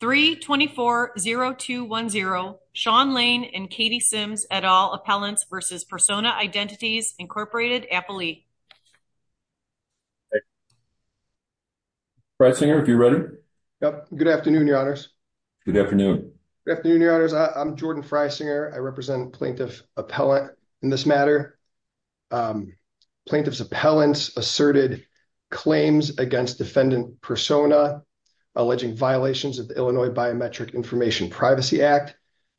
324-0210, Sean Lane and Katie Sims et al, Appellants v. Persona Identities, Inc. Appellee. Freisinger, if you're ready. Yep, good afternoon, your honors. Good afternoon. Good afternoon, your honors. I'm Jordan Freisinger. I represent Plaintiff Appellant in this matter. Plaintiff's appellants asserted claims against defendant Persona, alleging violations of the Illinois Biometric Information Privacy Act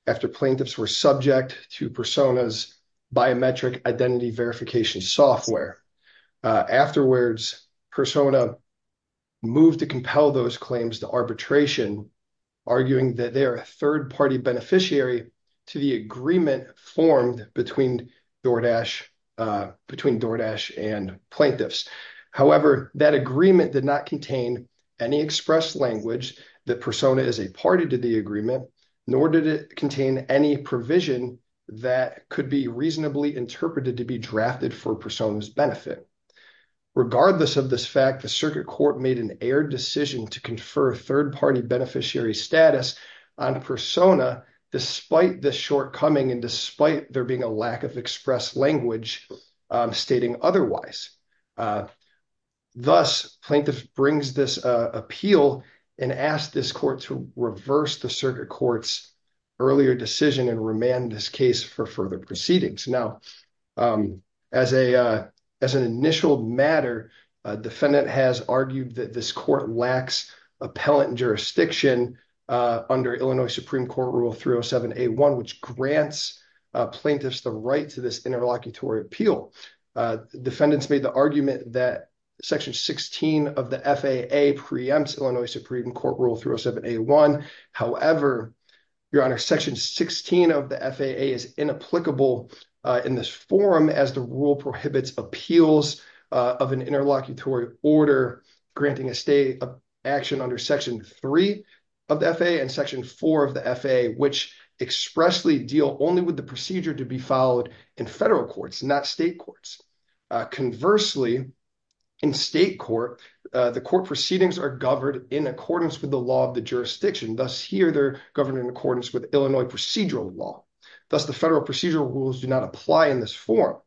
after plaintiffs were subject to Persona's biometric identity verification software. Afterwards, Persona moved to compel those claims to arbitration, arguing that they are a third-party beneficiary to the agreement formed between DoorDash and plaintiffs. However, that agreement did not contain any express language that Persona is a party to the agreement, nor did it contain any provision that could be reasonably interpreted to be drafted for Persona's benefit. Regardless of this fact, the circuit court made an air decision to confer third-party beneficiary status on Persona, despite the shortcoming and despite there being a lack of express language stating otherwise. Thus, plaintiff brings this appeal and asked this court to reverse the circuit court's earlier decision and remand this case for further proceedings. Now, as an initial matter, a defendant has argued that this court lacks appellant jurisdiction under Illinois Supreme Court Rule 307A1, which grants plaintiffs the right to this interlocutory appeal. Defendants made the argument that Section 16 of the FAA preempts Illinois Supreme Court Rule 307A1. However, Your Honor, Section 16 of the FAA is inapplicable in this forum as the rule prohibits appeals of an interlocutory order, granting a stay of action under Section 3 of the FAA and Section 4 of the FAA, which expressly deal only with the procedure to be followed in federal courts, not state courts. Conversely, in state court, the court proceedings are governed in accordance with the law of the jurisdiction. Thus, here they're governed in accordance with Illinois procedural law. Thus, the federal procedural rules do not apply in this forum.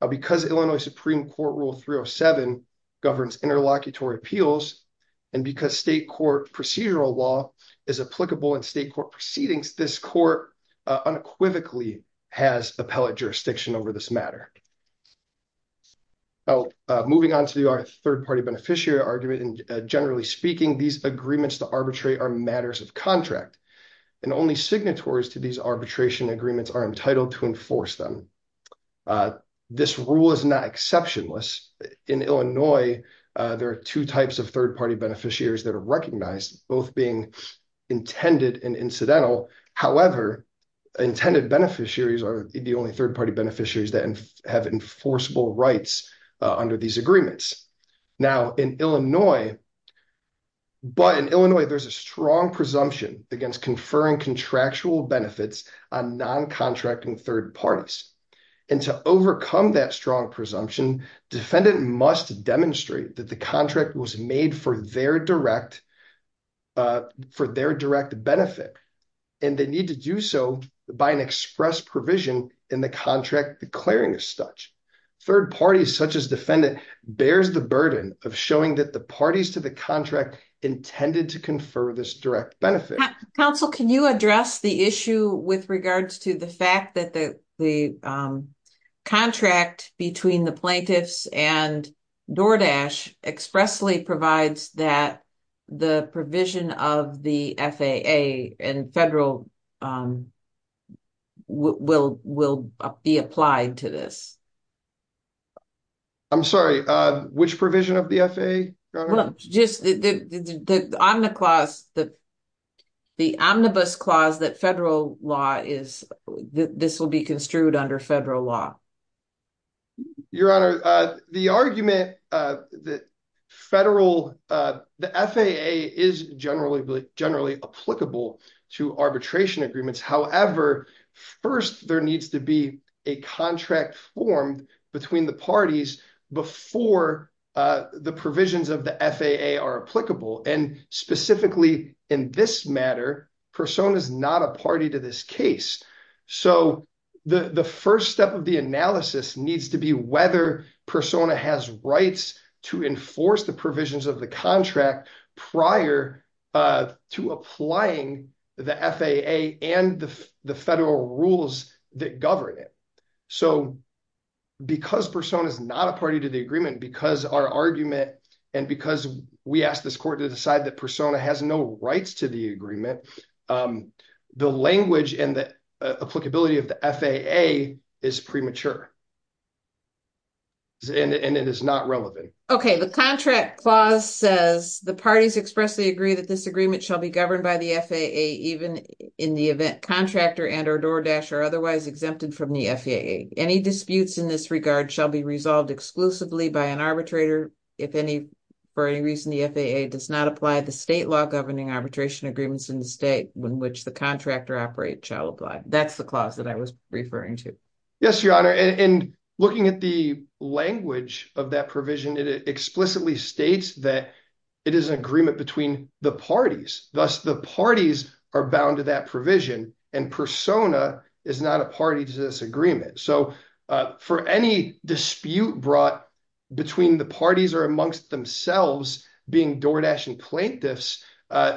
Now, because Illinois Supreme Court Rule 307 governs interlocutory appeals and because state court procedural law is applicable in state court proceedings, this court unequivocally has appellate jurisdiction over this matter. Now, moving on to our third-party beneficiary argument, and generally speaking, these agreements to arbitrate are matters of contract, and only signatories to these arbitration agreements are entitled to enforce them. This rule is not exceptionless. In Illinois, there are two types of third-party beneficiaries that are recognized, both being intended and incidental. However, intended beneficiaries are the only third-party beneficiaries that have enforceable rights under these agreements. Now, in Illinois, but in Illinois, there's a strong presumption against conferring contractual benefits on non-contracting third parties. And to overcome that strong presumption, defendant must demonstrate that the contract was made for their direct benefit, and they need to do so by an express provision in the contract declaring a studge. Third parties, such as defendant, bears the burden of showing that the parties to the contract intended to confer this direct benefit. Council, can you address the issue with regards to the fact that the contract between the plaintiffs and DoorDash expressly provides that the provision of the FAA and federal will be applied to this? I'm sorry, which provision of the FAA, Your Honor? Just the omnibus clause that federal law is, this will be construed under federal law. Your Honor, the argument that federal, the FAA is generally applicable to arbitration agreements. However, first there needs to be a contract formed between the parties before the provisions of the FAA are applicable. And specifically in this matter, Persona is not a party to this case. So the first step of the analysis needs to be whether Persona has rights to enforce the provisions of the contract prior to applying the FAA and the federal rules that govern it. So because Persona is not a party to the agreement, because our argument, and because we asked this court to decide that Persona has no rights to the agreement, the language and the applicability of the FAA is premature. And it is not relevant. Okay, the contract clause says, the parties expressly agree that this agreement shall be governed by the FAA, even in the event contractor and or DOORDASH are otherwise exempted from the FAA. Any disputes in this regard shall be resolved exclusively by an arbitrator. If any, for any reason, the FAA does not apply the state law governing arbitration agreements in the state in which the contractor operate shall apply. That's the clause that I was referring to. Yes, Your Honor. And looking at the language of that provision, it explicitly states that it is an agreement between the parties. Thus the parties are bound to that provision and Persona is not a party to this agreement. So for any dispute brought between the parties or amongst themselves being DOORDASH and plaintiffs,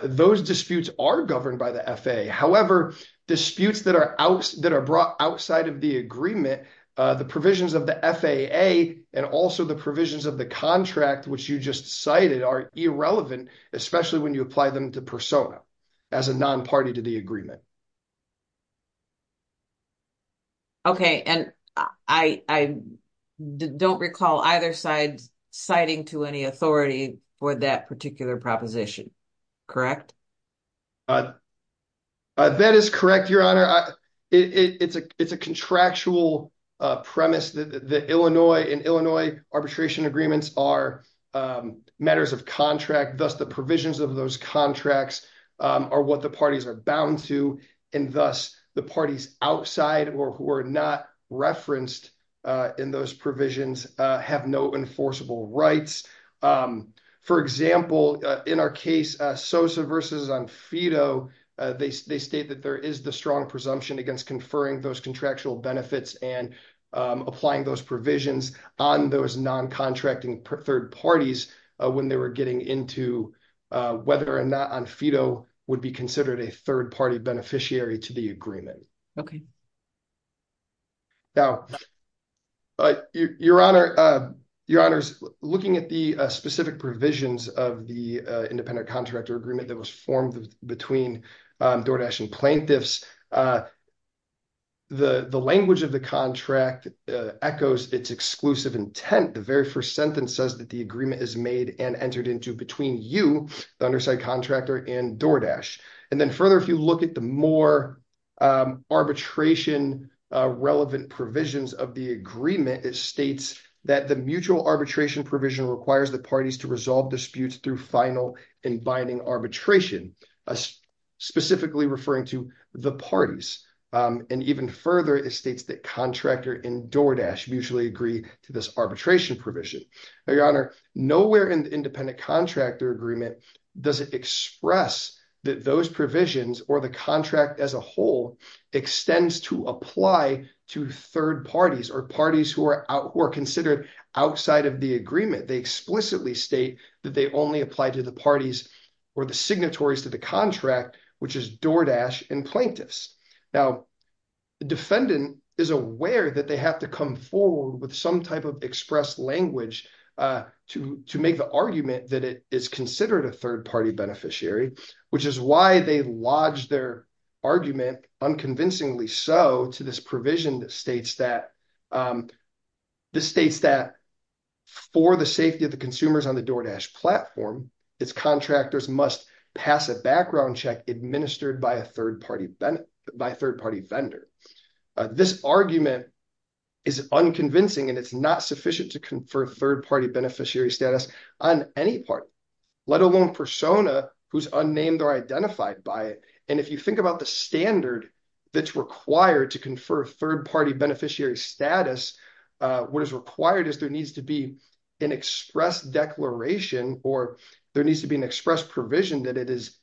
those disputes are governed by the FAA. However, disputes that are brought outside of the agreement, the provisions of the FAA and also the provisions of the contract which you just cited are irrelevant, especially when you apply them to Persona as a non-party to the agreement. Okay, and I don't recall either side citing to any authority for that particular proposition. Correct? That is correct, Your Honor. It's a contractual premise that in Illinois arbitration agreements are matters of contract. Thus the provisions of those contracts are what the parties are bound to and thus the parties outside or who are not referenced in those provisions have no enforceable rights. For example, in our case, Sosa versus Onfedo, they state that there is the strong presumption against conferring those contractual benefits and applying those provisions on those non-contracting third parties when they were getting into whether or not Onfedo would be considered a third party beneficiary to the agreement. Okay. Now, Your Honor, Your Honors, looking at the specific provisions of the independent contractor agreement that was formed between Doordash and plaintiffs, the language of the contract echoes its exclusive intent. The very first sentence says that the agreement is made and entered into between you, the underside contractor and Doordash. And then further, if you look at the more arbitration relevant provisions of the agreement, it states that the mutual arbitration provision requires the parties to resolve disputes through final and binding arbitration, specifically referring to the parties. And even further, it states that contractor and Doordash mutually agree to this arbitration provision. Your Honor, nowhere in the independent contractor agreement does it express that those provisions or the contract as a whole extends to apply to third parties or parties who are considered outside of the agreement. They explicitly state that they only apply to the parties or the signatories to the contract, which is Doordash and plaintiffs. Now, the defendant is aware that they have to come forward with some type of express language to make the argument that it is considered a third party beneficiary, which is why they lodged their argument, unconvincingly so, to this provision that states that, this states that for the safety of the consumers on the Doordash platform, its contractors must pass a background check administered by a third party vendor. This argument is unconvincing and it's not sufficient to confer third party beneficiary status on any party, let alone persona who's unnamed or identified by it. And if you think about the standard that's required to confer third party beneficiary status, what is required is there needs to be an express declaration or there needs to be an express provision that it is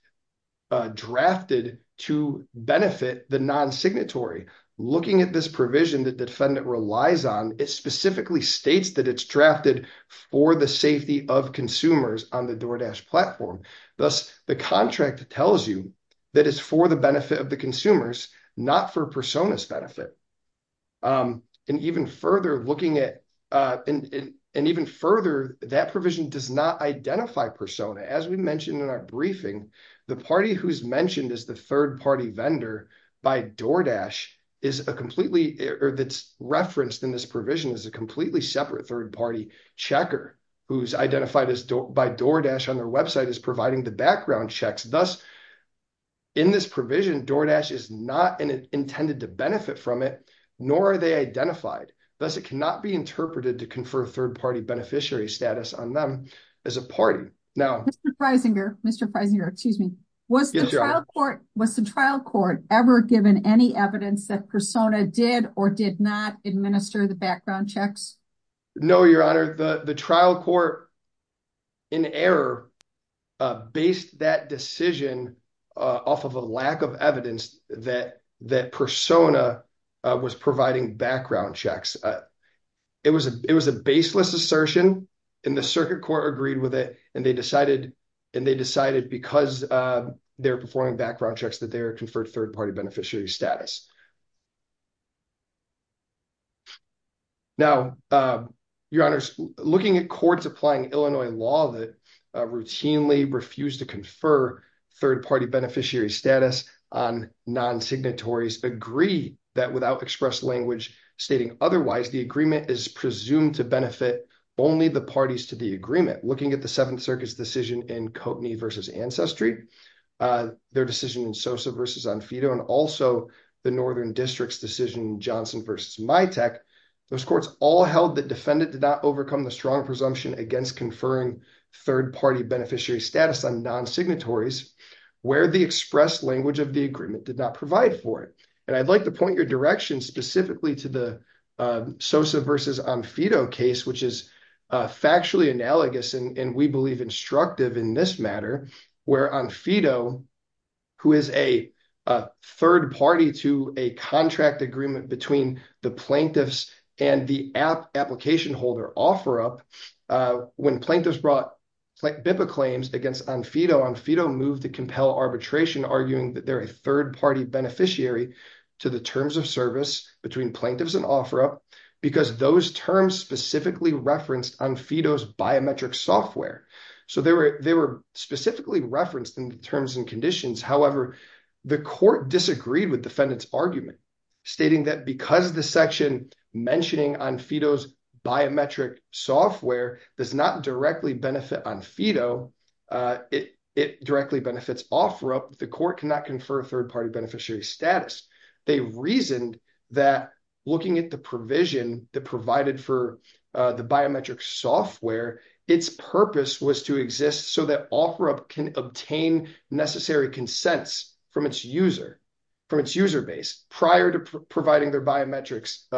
drafted to benefit the non-signatory. Looking at this provision that the defendant relies on, it specifically states that it's drafted for the safety of consumers on the Doordash platform. Thus, the contract tells you that it's for the benefit of the consumers, not for personas benefit. And even further looking at, and even further, that provision does not identify persona. As we mentioned in our briefing, the party who's mentioned as the third party vendor by Doordash is a completely, or that's referenced in this provision as a completely separate third party checker who's identified by Doordash on their website as providing the background checks. Thus, in this provision, Doordash is not intended to benefit from it, nor are they identified. Thus, it cannot be interpreted to confer third party beneficiary status on them as a party. Now- Mr. Freisinger, excuse me. Was the trial court ever given any evidence that persona did or did not administer the background checks? No, Your Honor. The trial court, in error, based that decision off of a lack of evidence that persona was providing background checks. It was a baseless assertion, and the circuit court agreed with it, and they decided because they're performing background checks that they are conferred third party beneficiary status. Now, Your Honors, looking at courts applying Illinois law that routinely refuse to confer third party beneficiary status on non-signatories agree that without express language stating otherwise, the agreement is presumed to benefit only the parties to the agreement. Looking at the Seventh Circuit's decision in Kotney versus Ancestry, their decision in Sosa versus Onfedo, and also the Northern District's decision in Johnson versus MITEC, those courts all held that defendant did not overcome the strong presumption against conferring third party beneficiary status on non-signatories, where the express language of the agreement did not provide for it. And I'd like to point your direction specifically to the Sosa versus Onfedo case, which is factually analogous, and we believe instructive in this matter, where Onfedo, who is a third party to a contract agreement between the plaintiffs and the application holder, OfferUp, when plaintiffs brought BIPA claims against Onfedo, Onfedo moved to compel arbitration, arguing that they're a third party beneficiary to the terms of service between plaintiffs and OfferUp, because those terms specifically referenced Onfedo's biometric software. So they were specifically referenced in the terms and conditions. However, the court disagreed with defendant's argument, stating that because the section mentioning Onfedo's biometric software does not directly benefit Onfedo, it directly benefits OfferUp, the court cannot confer a third party beneficiary status. They reasoned that looking at the provision that provided for the biometric software, its purpose was to exist so that OfferUp can obtain necessary consents from its user, from its user base, prior to providing their biometrics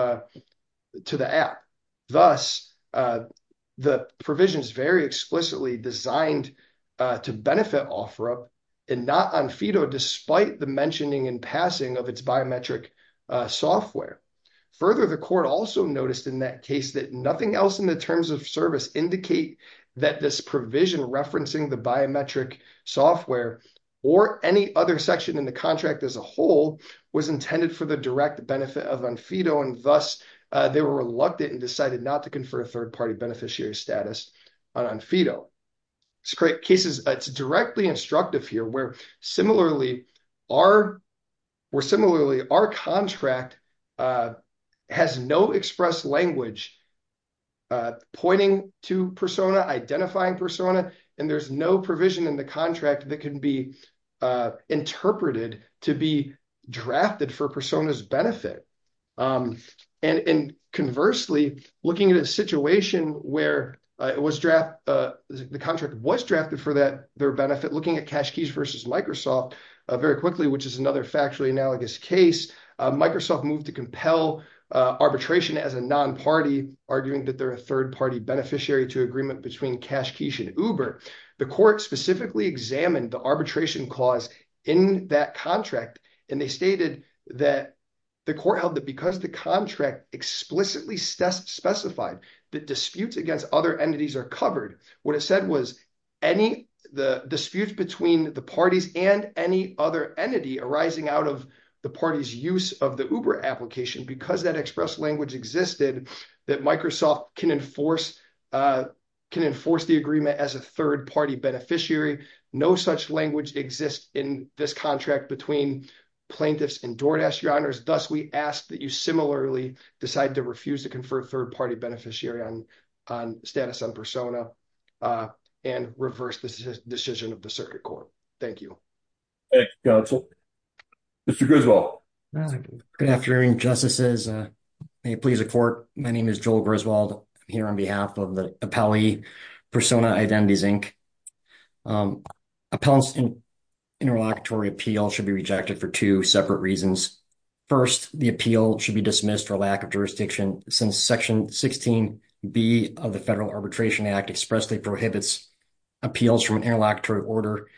to the app. Thus, the provision is very explicitly designed to benefit OfferUp and not Onfedo, despite the mentioning and passing of its biometric software. Further, the court also noticed in that case that nothing else in the terms of service indicate that this provision referencing the biometric software or any other section in the contract as a whole was intended for the direct benefit of Onfedo, and thus they were reluctant and decided not to confer a third party beneficiary status on Onfedo. Scrape cases, it's directly instructive here, where similarly our contract has no express language pointing to Persona, identifying Persona, and there's no provision in the contract that can be interpreted to be drafted for Persona's benefit. And conversely, looking at a situation where the contract was drafted for their benefit, looking at Cash Keys versus Microsoft very quickly, which is another factually analogous case, Microsoft moved to compel arbitration as a non-party, arguing that they're a third party beneficiary to agreement between Cash Keys and Uber. The court specifically examined the arbitration clause in that contract, and they stated that the court held that because the contract explicitly specified that disputes against other entities are covered, what it said was disputes between the parties and any other entity arising out of the party's use of the Uber application, because that express language existed, that Microsoft can enforce the agreement as a third party beneficiary. No such language exists in this contract between plaintiffs and door dash, your honors. Thus, we ask that you similarly decide to refuse to confer third party beneficiary on status on Persona and reverse this decision of the circuit court. Thank you. Thank you, counsel. Mr. Griswold. Good afternoon, justices. May it please the court. My name is Joel Griswold, here on behalf of the appellee Persona Identities, Inc. Appellants in interlocutory appeal should be rejected for two separate reasons. First, the appeal should be dismissed for lack of jurisdiction since section 16B of the Federal Arbitration Act expressly prohibits appeals from an interlocutory order,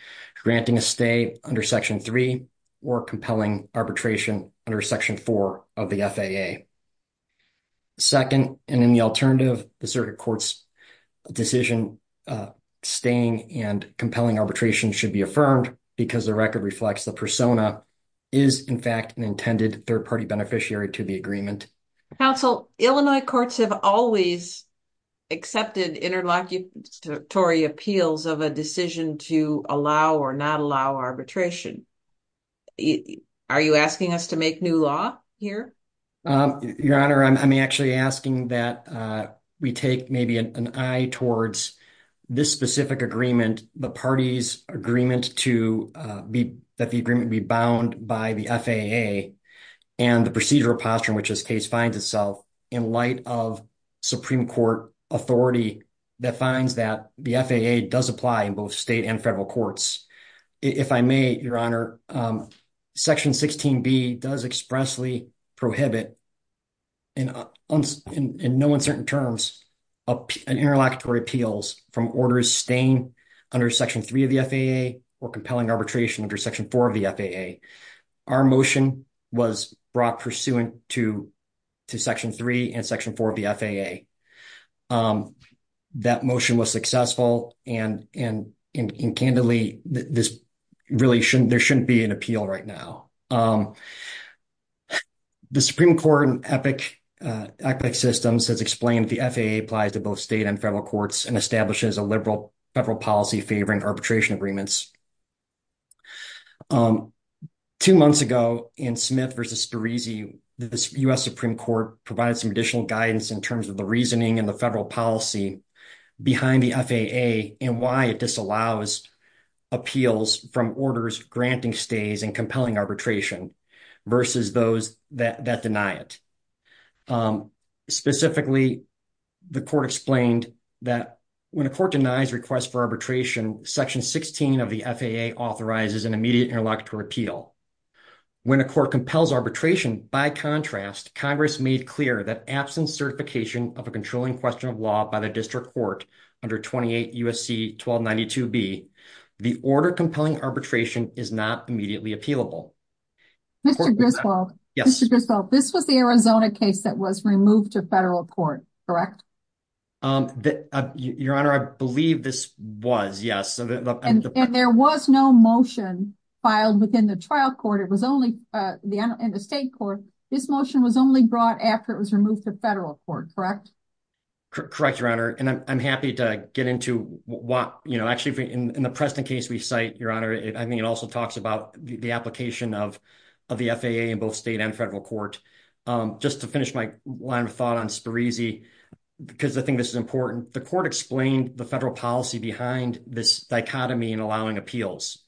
granting a stay under section three or compelling arbitration under section four of the FAA. Second, and in the alternative, the circuit court's decision, staying and compelling arbitration should be affirmed because the record reflects the Persona is in fact an intended third party beneficiary to the agreement. Counsel, Illinois courts have always accepted interlocutory appeals of a decision to allow or not allow arbitration. Are you asking us to make new law here? Your Honor, I'm actually asking that we take maybe an eye towards this specific agreement, the party's agreement to be, that the agreement be bound by the FAA and the procedural posture in which this case finds itself in light of Supreme Court authority that finds that the FAA does apply in both state and federal courts. If I may, Your Honor, section 16B does expressly prohibit in no uncertain terms, an interlocutory appeals from orders staying under section three of the FAA or compelling arbitration under section four of the FAA. Our motion was brought pursuant to section three and section four of the FAA. That motion was successful and candidly, this really shouldn't, there shouldn't be an appeal right now. The Supreme Court and EPIC systems has explained the FAA applies to both state and federal courts and establishes a liberal federal policy favoring arbitration agreements. Two months ago in Smith versus Spirisi, the U.S. Supreme Court provided some additional guidance in terms of the reasoning and the federal policy behind the FAA and why it disallows appeals from orders granting stays and compelling arbitration versus those that deny it. Specifically, the court explained that when a court denies request for arbitration, section 16 of the FAA authorizes an immediate interlocutory appeal. When a court compels arbitration, by contrast, Congress made clear that absent certification of a controlling question of law by the district court under 28 U.S.C. 1292B, the order compelling arbitration is not immediately appealable. Mr. Griswold, this was the Arizona case that was removed to federal court, correct? Your Honor, I believe this was, yes. And there was no motion filed within the trial court. It was only in the state court. This motion was only brought after it was removed to federal court, correct? Correct, Your Honor. And I'm happy to get into what, actually in the Preston case we cite, Your Honor, I think it also talks about the application of the FAA in both state and federal court. Just to finish my line of thought on Spirisi, because I think this is important, the court explained the federal policy behind this dichotomy in allowing appeals.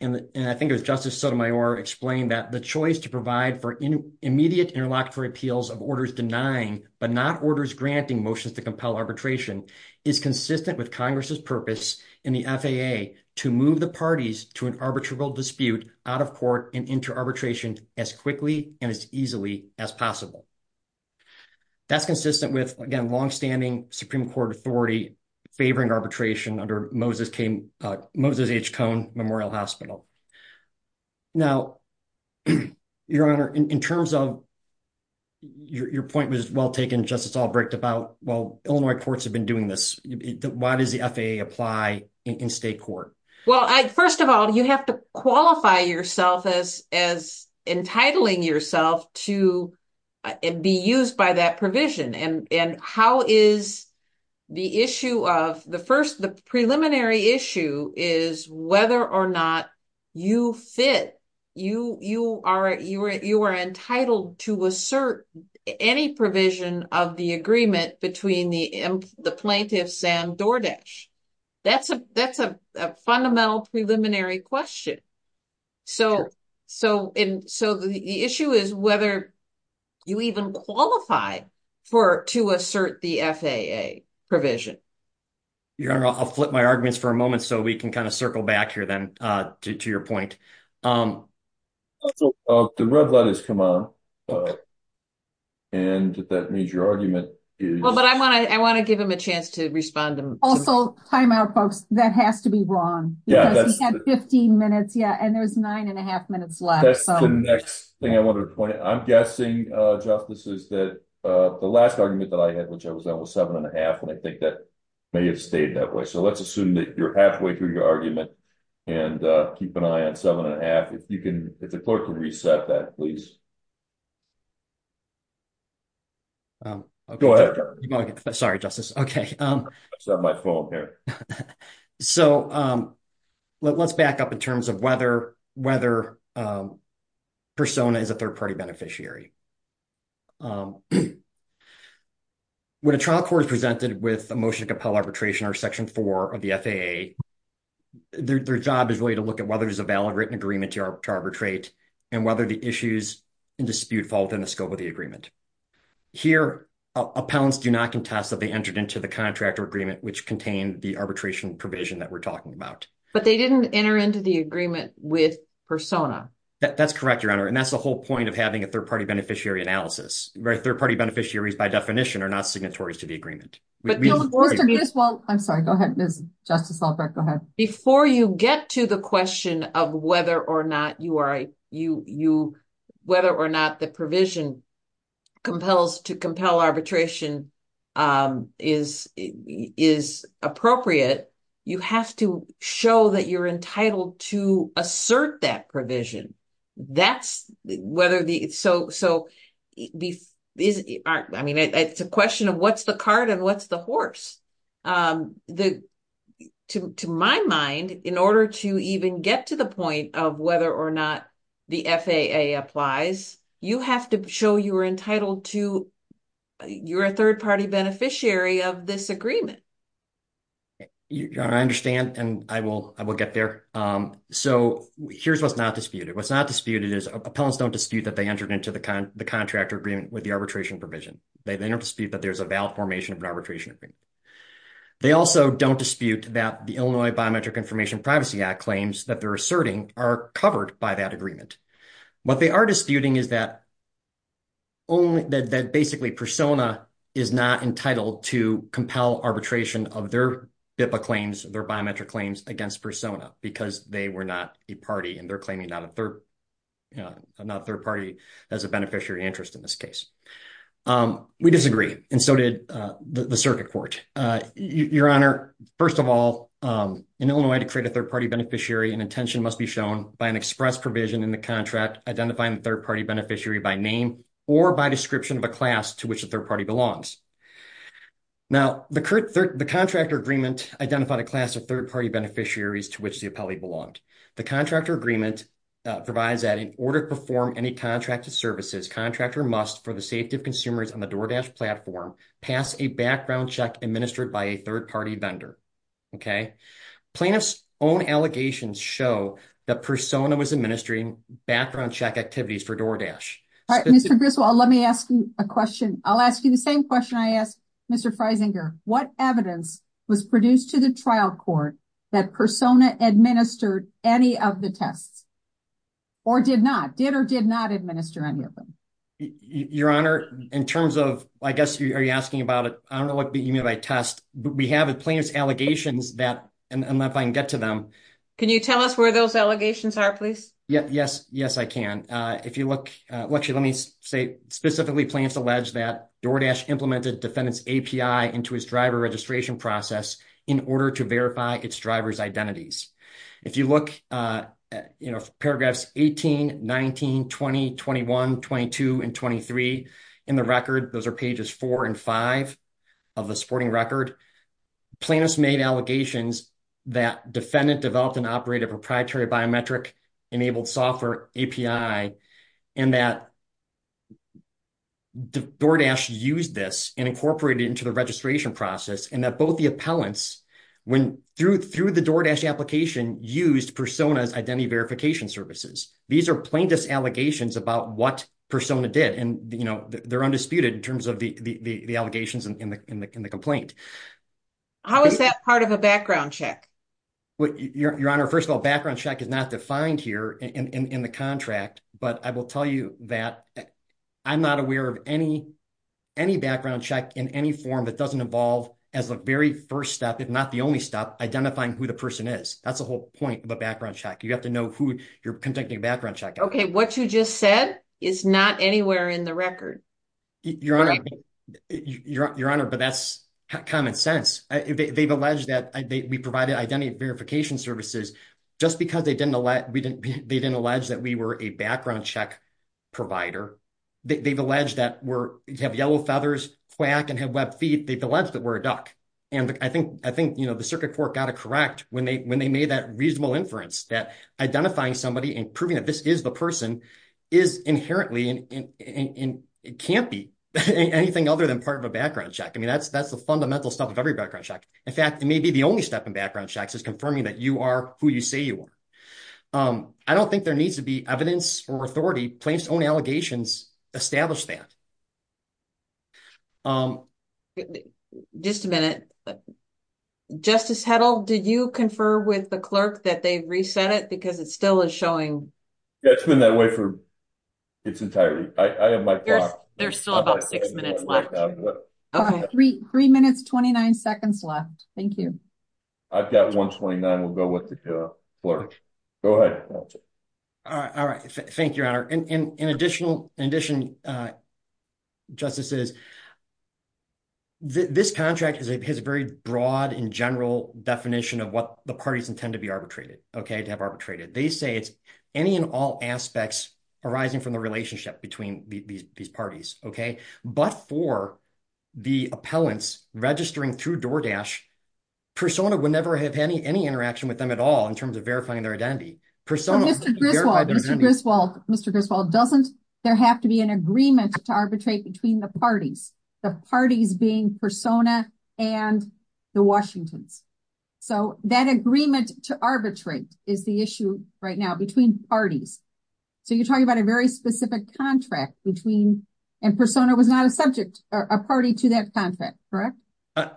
And I think it was Justice Sotomayor explained that the choice to provide for immediate interlocutory appeals of orders denying, but not orders granting motions to compel arbitration is consistent with Congress's purpose in the FAA to move the parties to an arbitrable dispute out of court and into arbitration as quickly and as easily as possible. That's consistent with, again, longstanding Supreme Court authority favoring arbitration under Moses H. Cohn Memorial Hospital. Now, Your Honor, in terms of, your point was well taken, Justice Albrecht, about, well, Illinois courts have been doing this. Why does the FAA apply in state court? Well, first of all, you have to qualify yourself as entitling yourself to be used by that provision. And how is the issue of the first, the preliminary issue is whether or not you fit, you are entitled to assert any provision of the agreement between the plaintiff, Sam Dordish. That's a fundamental preliminary question. So the issue is whether you even qualify to assert the FAA provision. Your Honor, I'll flip my arguments for a moment so we can kind of circle back here then to your point. The red light has come on, and that means your argument is- Well, but I wanna give him a chance to respond to- Also, time out, folks, that has to be wrong because he had 15 minutes, yeah, and there was nine and a half minutes left. That's the next thing I wanted to point out. I'm guessing, Justice, is that the last argument that I had, which I was on, was seven and a half, and I think that may have stayed that way. So let's assume that you're halfway through your argument and keep an eye on seven and a half. If you can, if the clerk can reset that, please. Go ahead, Justice. Sorry, Justice, okay. I just have my phone here. So let's back up in terms of whether persona is a third-party beneficiary. When a trial court is presented with a motion to compel arbitration or Section 4 of the FAA, their job is really to look at whether there's a valid written agreement to arbitrate and whether the issues in dispute fall within the scope of the agreement. Here, appellants do not contest that they entered into the contract or agreement which contain the arbitration provision that we're talking about. But they didn't enter into the agreement with persona. That's correct, Your Honor, and that's the whole point of having a third-party beneficiary analysis. Third-party beneficiaries, by definition, are not signatories to the agreement. But we- Mr. Griswold, I'm sorry, go ahead, Ms. Justice Albrecht, go ahead. Before you get to the question of whether or not the provision compels to compel arbitration is appropriate, you have to show that you're entitled to assert that provision. That's whether the- So, I mean, it's a question of what's the cart and what's the horse. To my mind, in order to even get to the point of whether or not the FAA applies, you have to show you're entitled to, you're a third-party beneficiary of this agreement. Your Honor, I understand, and I will get there. So, here's what's not disputed. What's not disputed is appellants don't dispute that they entered into the contractor agreement with the arbitration provision. They don't dispute that there's a valid formation of an arbitration agreement. They also don't dispute that the Illinois Biometric Information Privacy Act claims that they're asserting are covered by that agreement. What they are disputing is that only, basically, Persona is not entitled to compel arbitration of their BIPA claims, their biometric claims, against Persona because they were not a party and they're claiming not a third party as a beneficiary interest in this case. We disagree, and so did the Circuit Court. Your Honor, first of all, in Illinois, to create a third-party beneficiary, an intention must be shown by an express provision in the contract identifying the third-party beneficiary by name or by description of a class to which the third party belongs. Now, the contractor agreement identified a class of third-party beneficiaries to which the appellee belonged. The contractor agreement provides that in order to perform any contracted services, contractor must, for the safety of consumers on the DoorDash platform, pass a background check administered by a third-party vendor, okay? Plaintiffs' own allegations show that Persona was administering background check activities for DoorDash. All right, Mr. Griswold, let me ask you a question. I'll ask you the same question I asked Mr. Freisinger. What evidence was produced to the trial court that Persona administered any of the tests, or did not, did or did not administer any of them? Your Honor, in terms of, I guess, are you asking about it? I don't know what you mean by test, but we have plaintiff's allegations that, and if I can get to them. Can you tell us where those allegations are, please? Yeah, yes, yes, I can. Actually, let me say, specifically, plaintiffs allege that DoorDash implemented defendant's API into his driver registration process in order to verify its driver's identities. If you look at paragraphs 18, 19, 20, 21, 22, and 23 in the record, those are pages four and five of the supporting record, plaintiffs made allegations that defendant developed and operated a proprietary biometric-enabled software API, and that DoorDash used this and incorporated it into the registration process, and that both the appellants, when through the DoorDash application, used Persona's identity verification services. These are plaintiff's allegations about what Persona did, and they're undisputed in terms of the allegations in the complaint. How is that part of a background check? Your Honor, first of all, background check is not defined here in the contract, but I will tell you that I'm not aware of any background check in any form that doesn't involve, as the very first step, if not the only step, identifying who the person is. That's the whole point of a background check. You have to know who you're conducting a background check. Okay, what you just said is not anywhere in the record. Your Honor, but that's common sense. They've alleged that we provided identity verification services just because they didn't allege that we were a background check provider. They've alleged that we have yellow feathers, quack, and have webbed feet. They've alleged that we're a duck, and I think the Circuit Court got it correct when they made that reasonable inference that identifying somebody and proving that this is the person is inherently, and it can't be anything other than part of a background check. I mean, that's the fundamental stuff of every background check. In fact, it may be the only step in background checks is confirming that you are who you say you are. I don't think there needs to be evidence or authority. Plaintiffs' own allegations establish that. Just a minute. Justice Heddle, did you confer with the clerk that they've reset it because it still is showing? Yeah, it's been that way for its entirety. I have my clock. There's still about six minutes left. All right, three minutes, 29 seconds left. Thank you. I've got 1.29. We'll go with the clerk. Go ahead. All right. Thank you, Your Honor. And in addition, Justices, this contract has a very broad and general definition of what the parties intend to be arbitrated, okay, to have arbitrated. They say it's any and all aspects arising from the relationship between these parties, okay, but for the appellants registering through DoorDash, Persona would never have any interaction with them at all in terms of verifying their identity. Persona- Mr. Griswold, Mr. Griswold, Mr. Griswold, doesn't there have to be an agreement to arbitrate between the parties, the parties being Persona and the Washingtons? So that agreement to arbitrate is the issue right now between parties. So you're talking about a very specific contract between, and Persona was not a subject, a party to that contract, correct?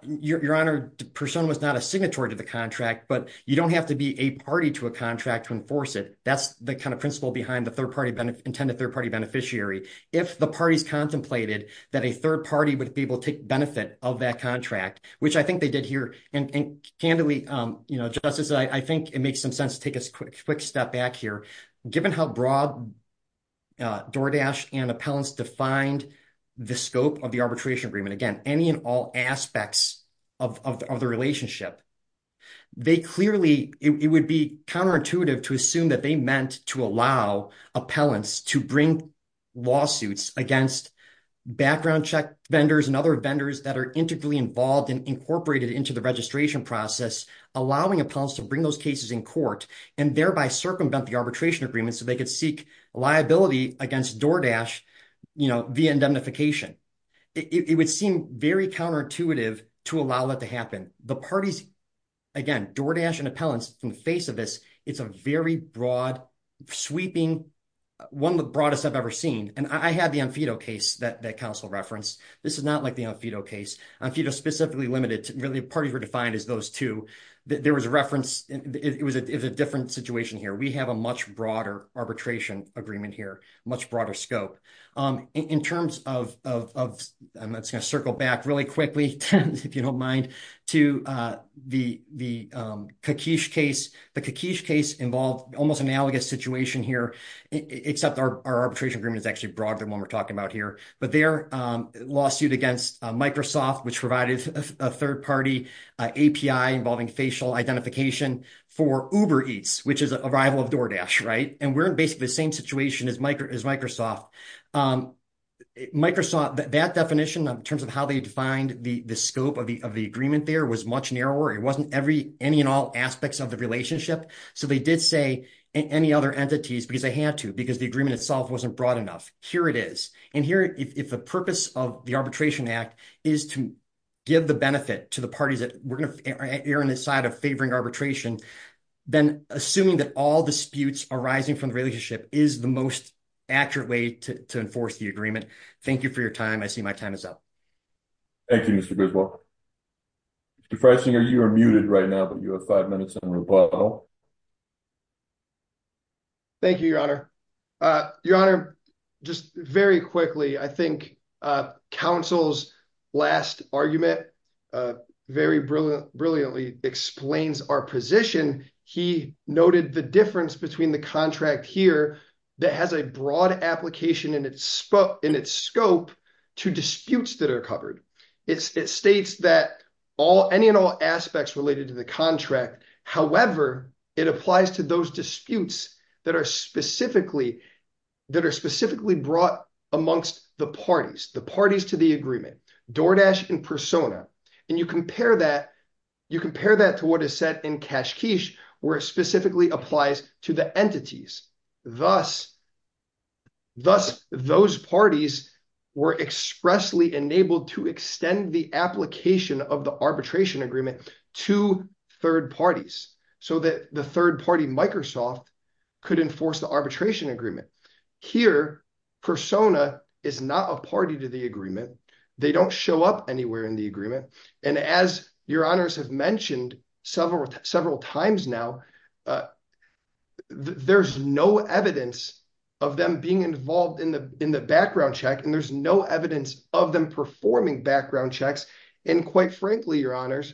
Your Honor, Persona was not a signatory to the contract, but you don't have to be a party to a contract to enforce it. That's the kind of principle behind the intended third-party beneficiary. If the parties contemplated that a third party would be able to take benefit of that contract, which I think they did here, and candidly, Justices, I think it makes some sense to take a quick step back here. Given how broad DoorDash and appellants defined the scope of the arbitration agreement, again, any and all aspects of the relationship, they clearly, it would be counterintuitive to assume that they meant to allow appellants to bring lawsuits against background check vendors and other vendors that are integrally involved and incorporated into the registration process, allowing appellants to bring those cases in court and thereby circumvent the arbitration agreement so they could seek liability against DoorDash via indemnification. It would seem very counterintuitive to allow that to happen. The parties, again, DoorDash and appellants, in the face of this, it's a very broad, sweeping, one of the broadest I've ever seen. And I had the Amphedo case that counsel referenced. This is not like the Amphedo case. Amphedo specifically limited to, really, parties were defined as those two. There was a reference, it was a different situation here. We have a much broader arbitration agreement here, much broader scope. In terms of, I'm just gonna circle back really quickly, if you don't mind, to the Kakish case. The Kakish case involved almost analogous situation here, except our arbitration agreement is actually broader than what we're talking about here. But their lawsuit against Microsoft, which provided a third-party API involving facial identification for Uber Eats, which is a rival of DoorDash, right? And we're in basically the same situation as Microsoft. Microsoft, that definition, in terms of how they defined the scope of the agreement there, was much narrower. It wasn't any and all aspects of the relationship. So they did say any other entities, because they had to, because the agreement itself wasn't broad enough. Here it is. And here, if the purpose of the Arbitration Act is to give the benefit to the parties that we're gonna err on the side of favoring arbitration, then assuming that all disputes arising from the relationship is the most accurate way to enforce the agreement. Thank you for your time. I see my time is up. Thank you, Mr. Griswold. Mr. Freisinger, you are muted right now, but you have five minutes on rebuttal. Thank you, Your Honor. Your Honor, just very quickly, I think counsel's last argument very brilliantly explains our position. He noted the difference between the contract here that has a broad application in its scope to disputes that are covered. It states that any and all aspects related to the contract, however, it applies to those disputes that are specifically brought amongst the parties, the parties to the agreement, DoorDash and Persona. And you compare that to what is said in Kashkish where it specifically applies to the entities. Thus, those parties were expressly enabled to extend the application of the arbitration agreement to third parties so that the third party, Microsoft, could enforce the arbitration agreement. Here, Persona is not a party to the agreement. They don't show up anywhere in the agreement. And as Your Honors have mentioned several times now, there's no evidence of them being involved in the background check, and there's no evidence of them performing background checks. And quite frankly, Your Honors,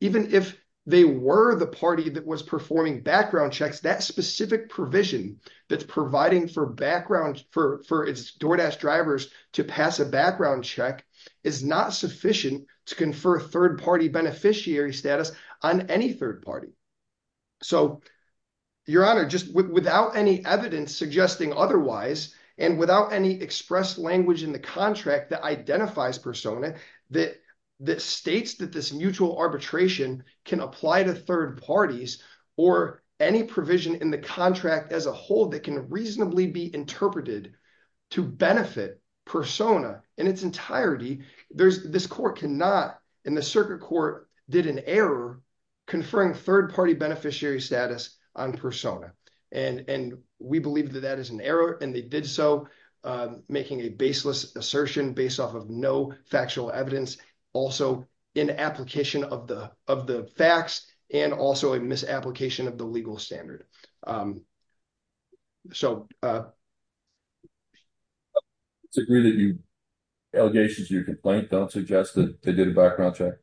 even if they were the party that was performing background checks, that specific provision that's providing for DoorDash drivers to pass a background check is not sufficient to confer third party beneficiary status on any third party. So Your Honor, just without any evidence suggesting otherwise, and without any expressed language in the contract that identifies Persona, that states that this mutual arbitration can apply to third parties, or any provision in the contract as a whole that can reasonably be interpreted to benefit Persona in its entirety, this court cannot, and the circuit court did an error conferring third party beneficiary status on Persona. And we believe that that is an error, and they did so making a baseless assertion based off of no factual evidence, also in application of the facts, and also a misapplication of the legal standard. I disagree that the allegations of your complaint don't suggest that they did a background check.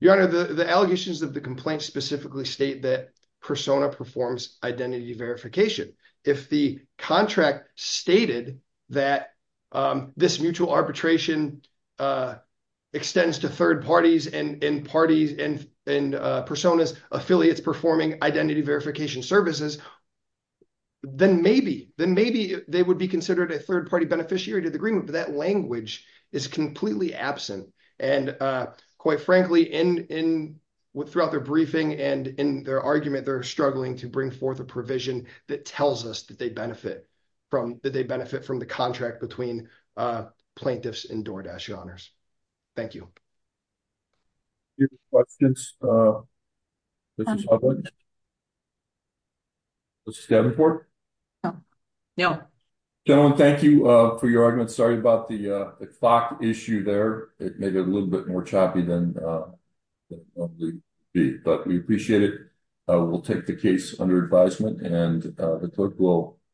Your Honor, the allegations of the complaint specifically state that Persona performs identity verification. If the contract stated that this mutual arbitration extends to third parties and Persona's affiliates performing identity verification services, then maybe they would be considered a third party beneficiary to the agreement, but that language is completely absent. And quite frankly, throughout their briefing and in their argument, they're struggling to bring forth a provision that tells us that they benefit from the contract between plaintiffs and Doordash, Your Honors. Thank you. Your questions, Mrs. Hovland? Mrs. Davenport? No. Gentlemen, thank you for your arguments. Sorry about the clock issue there. It made it a little bit more choppy than it should be, but we appreciate it. We'll take the case under advisement, and the court will...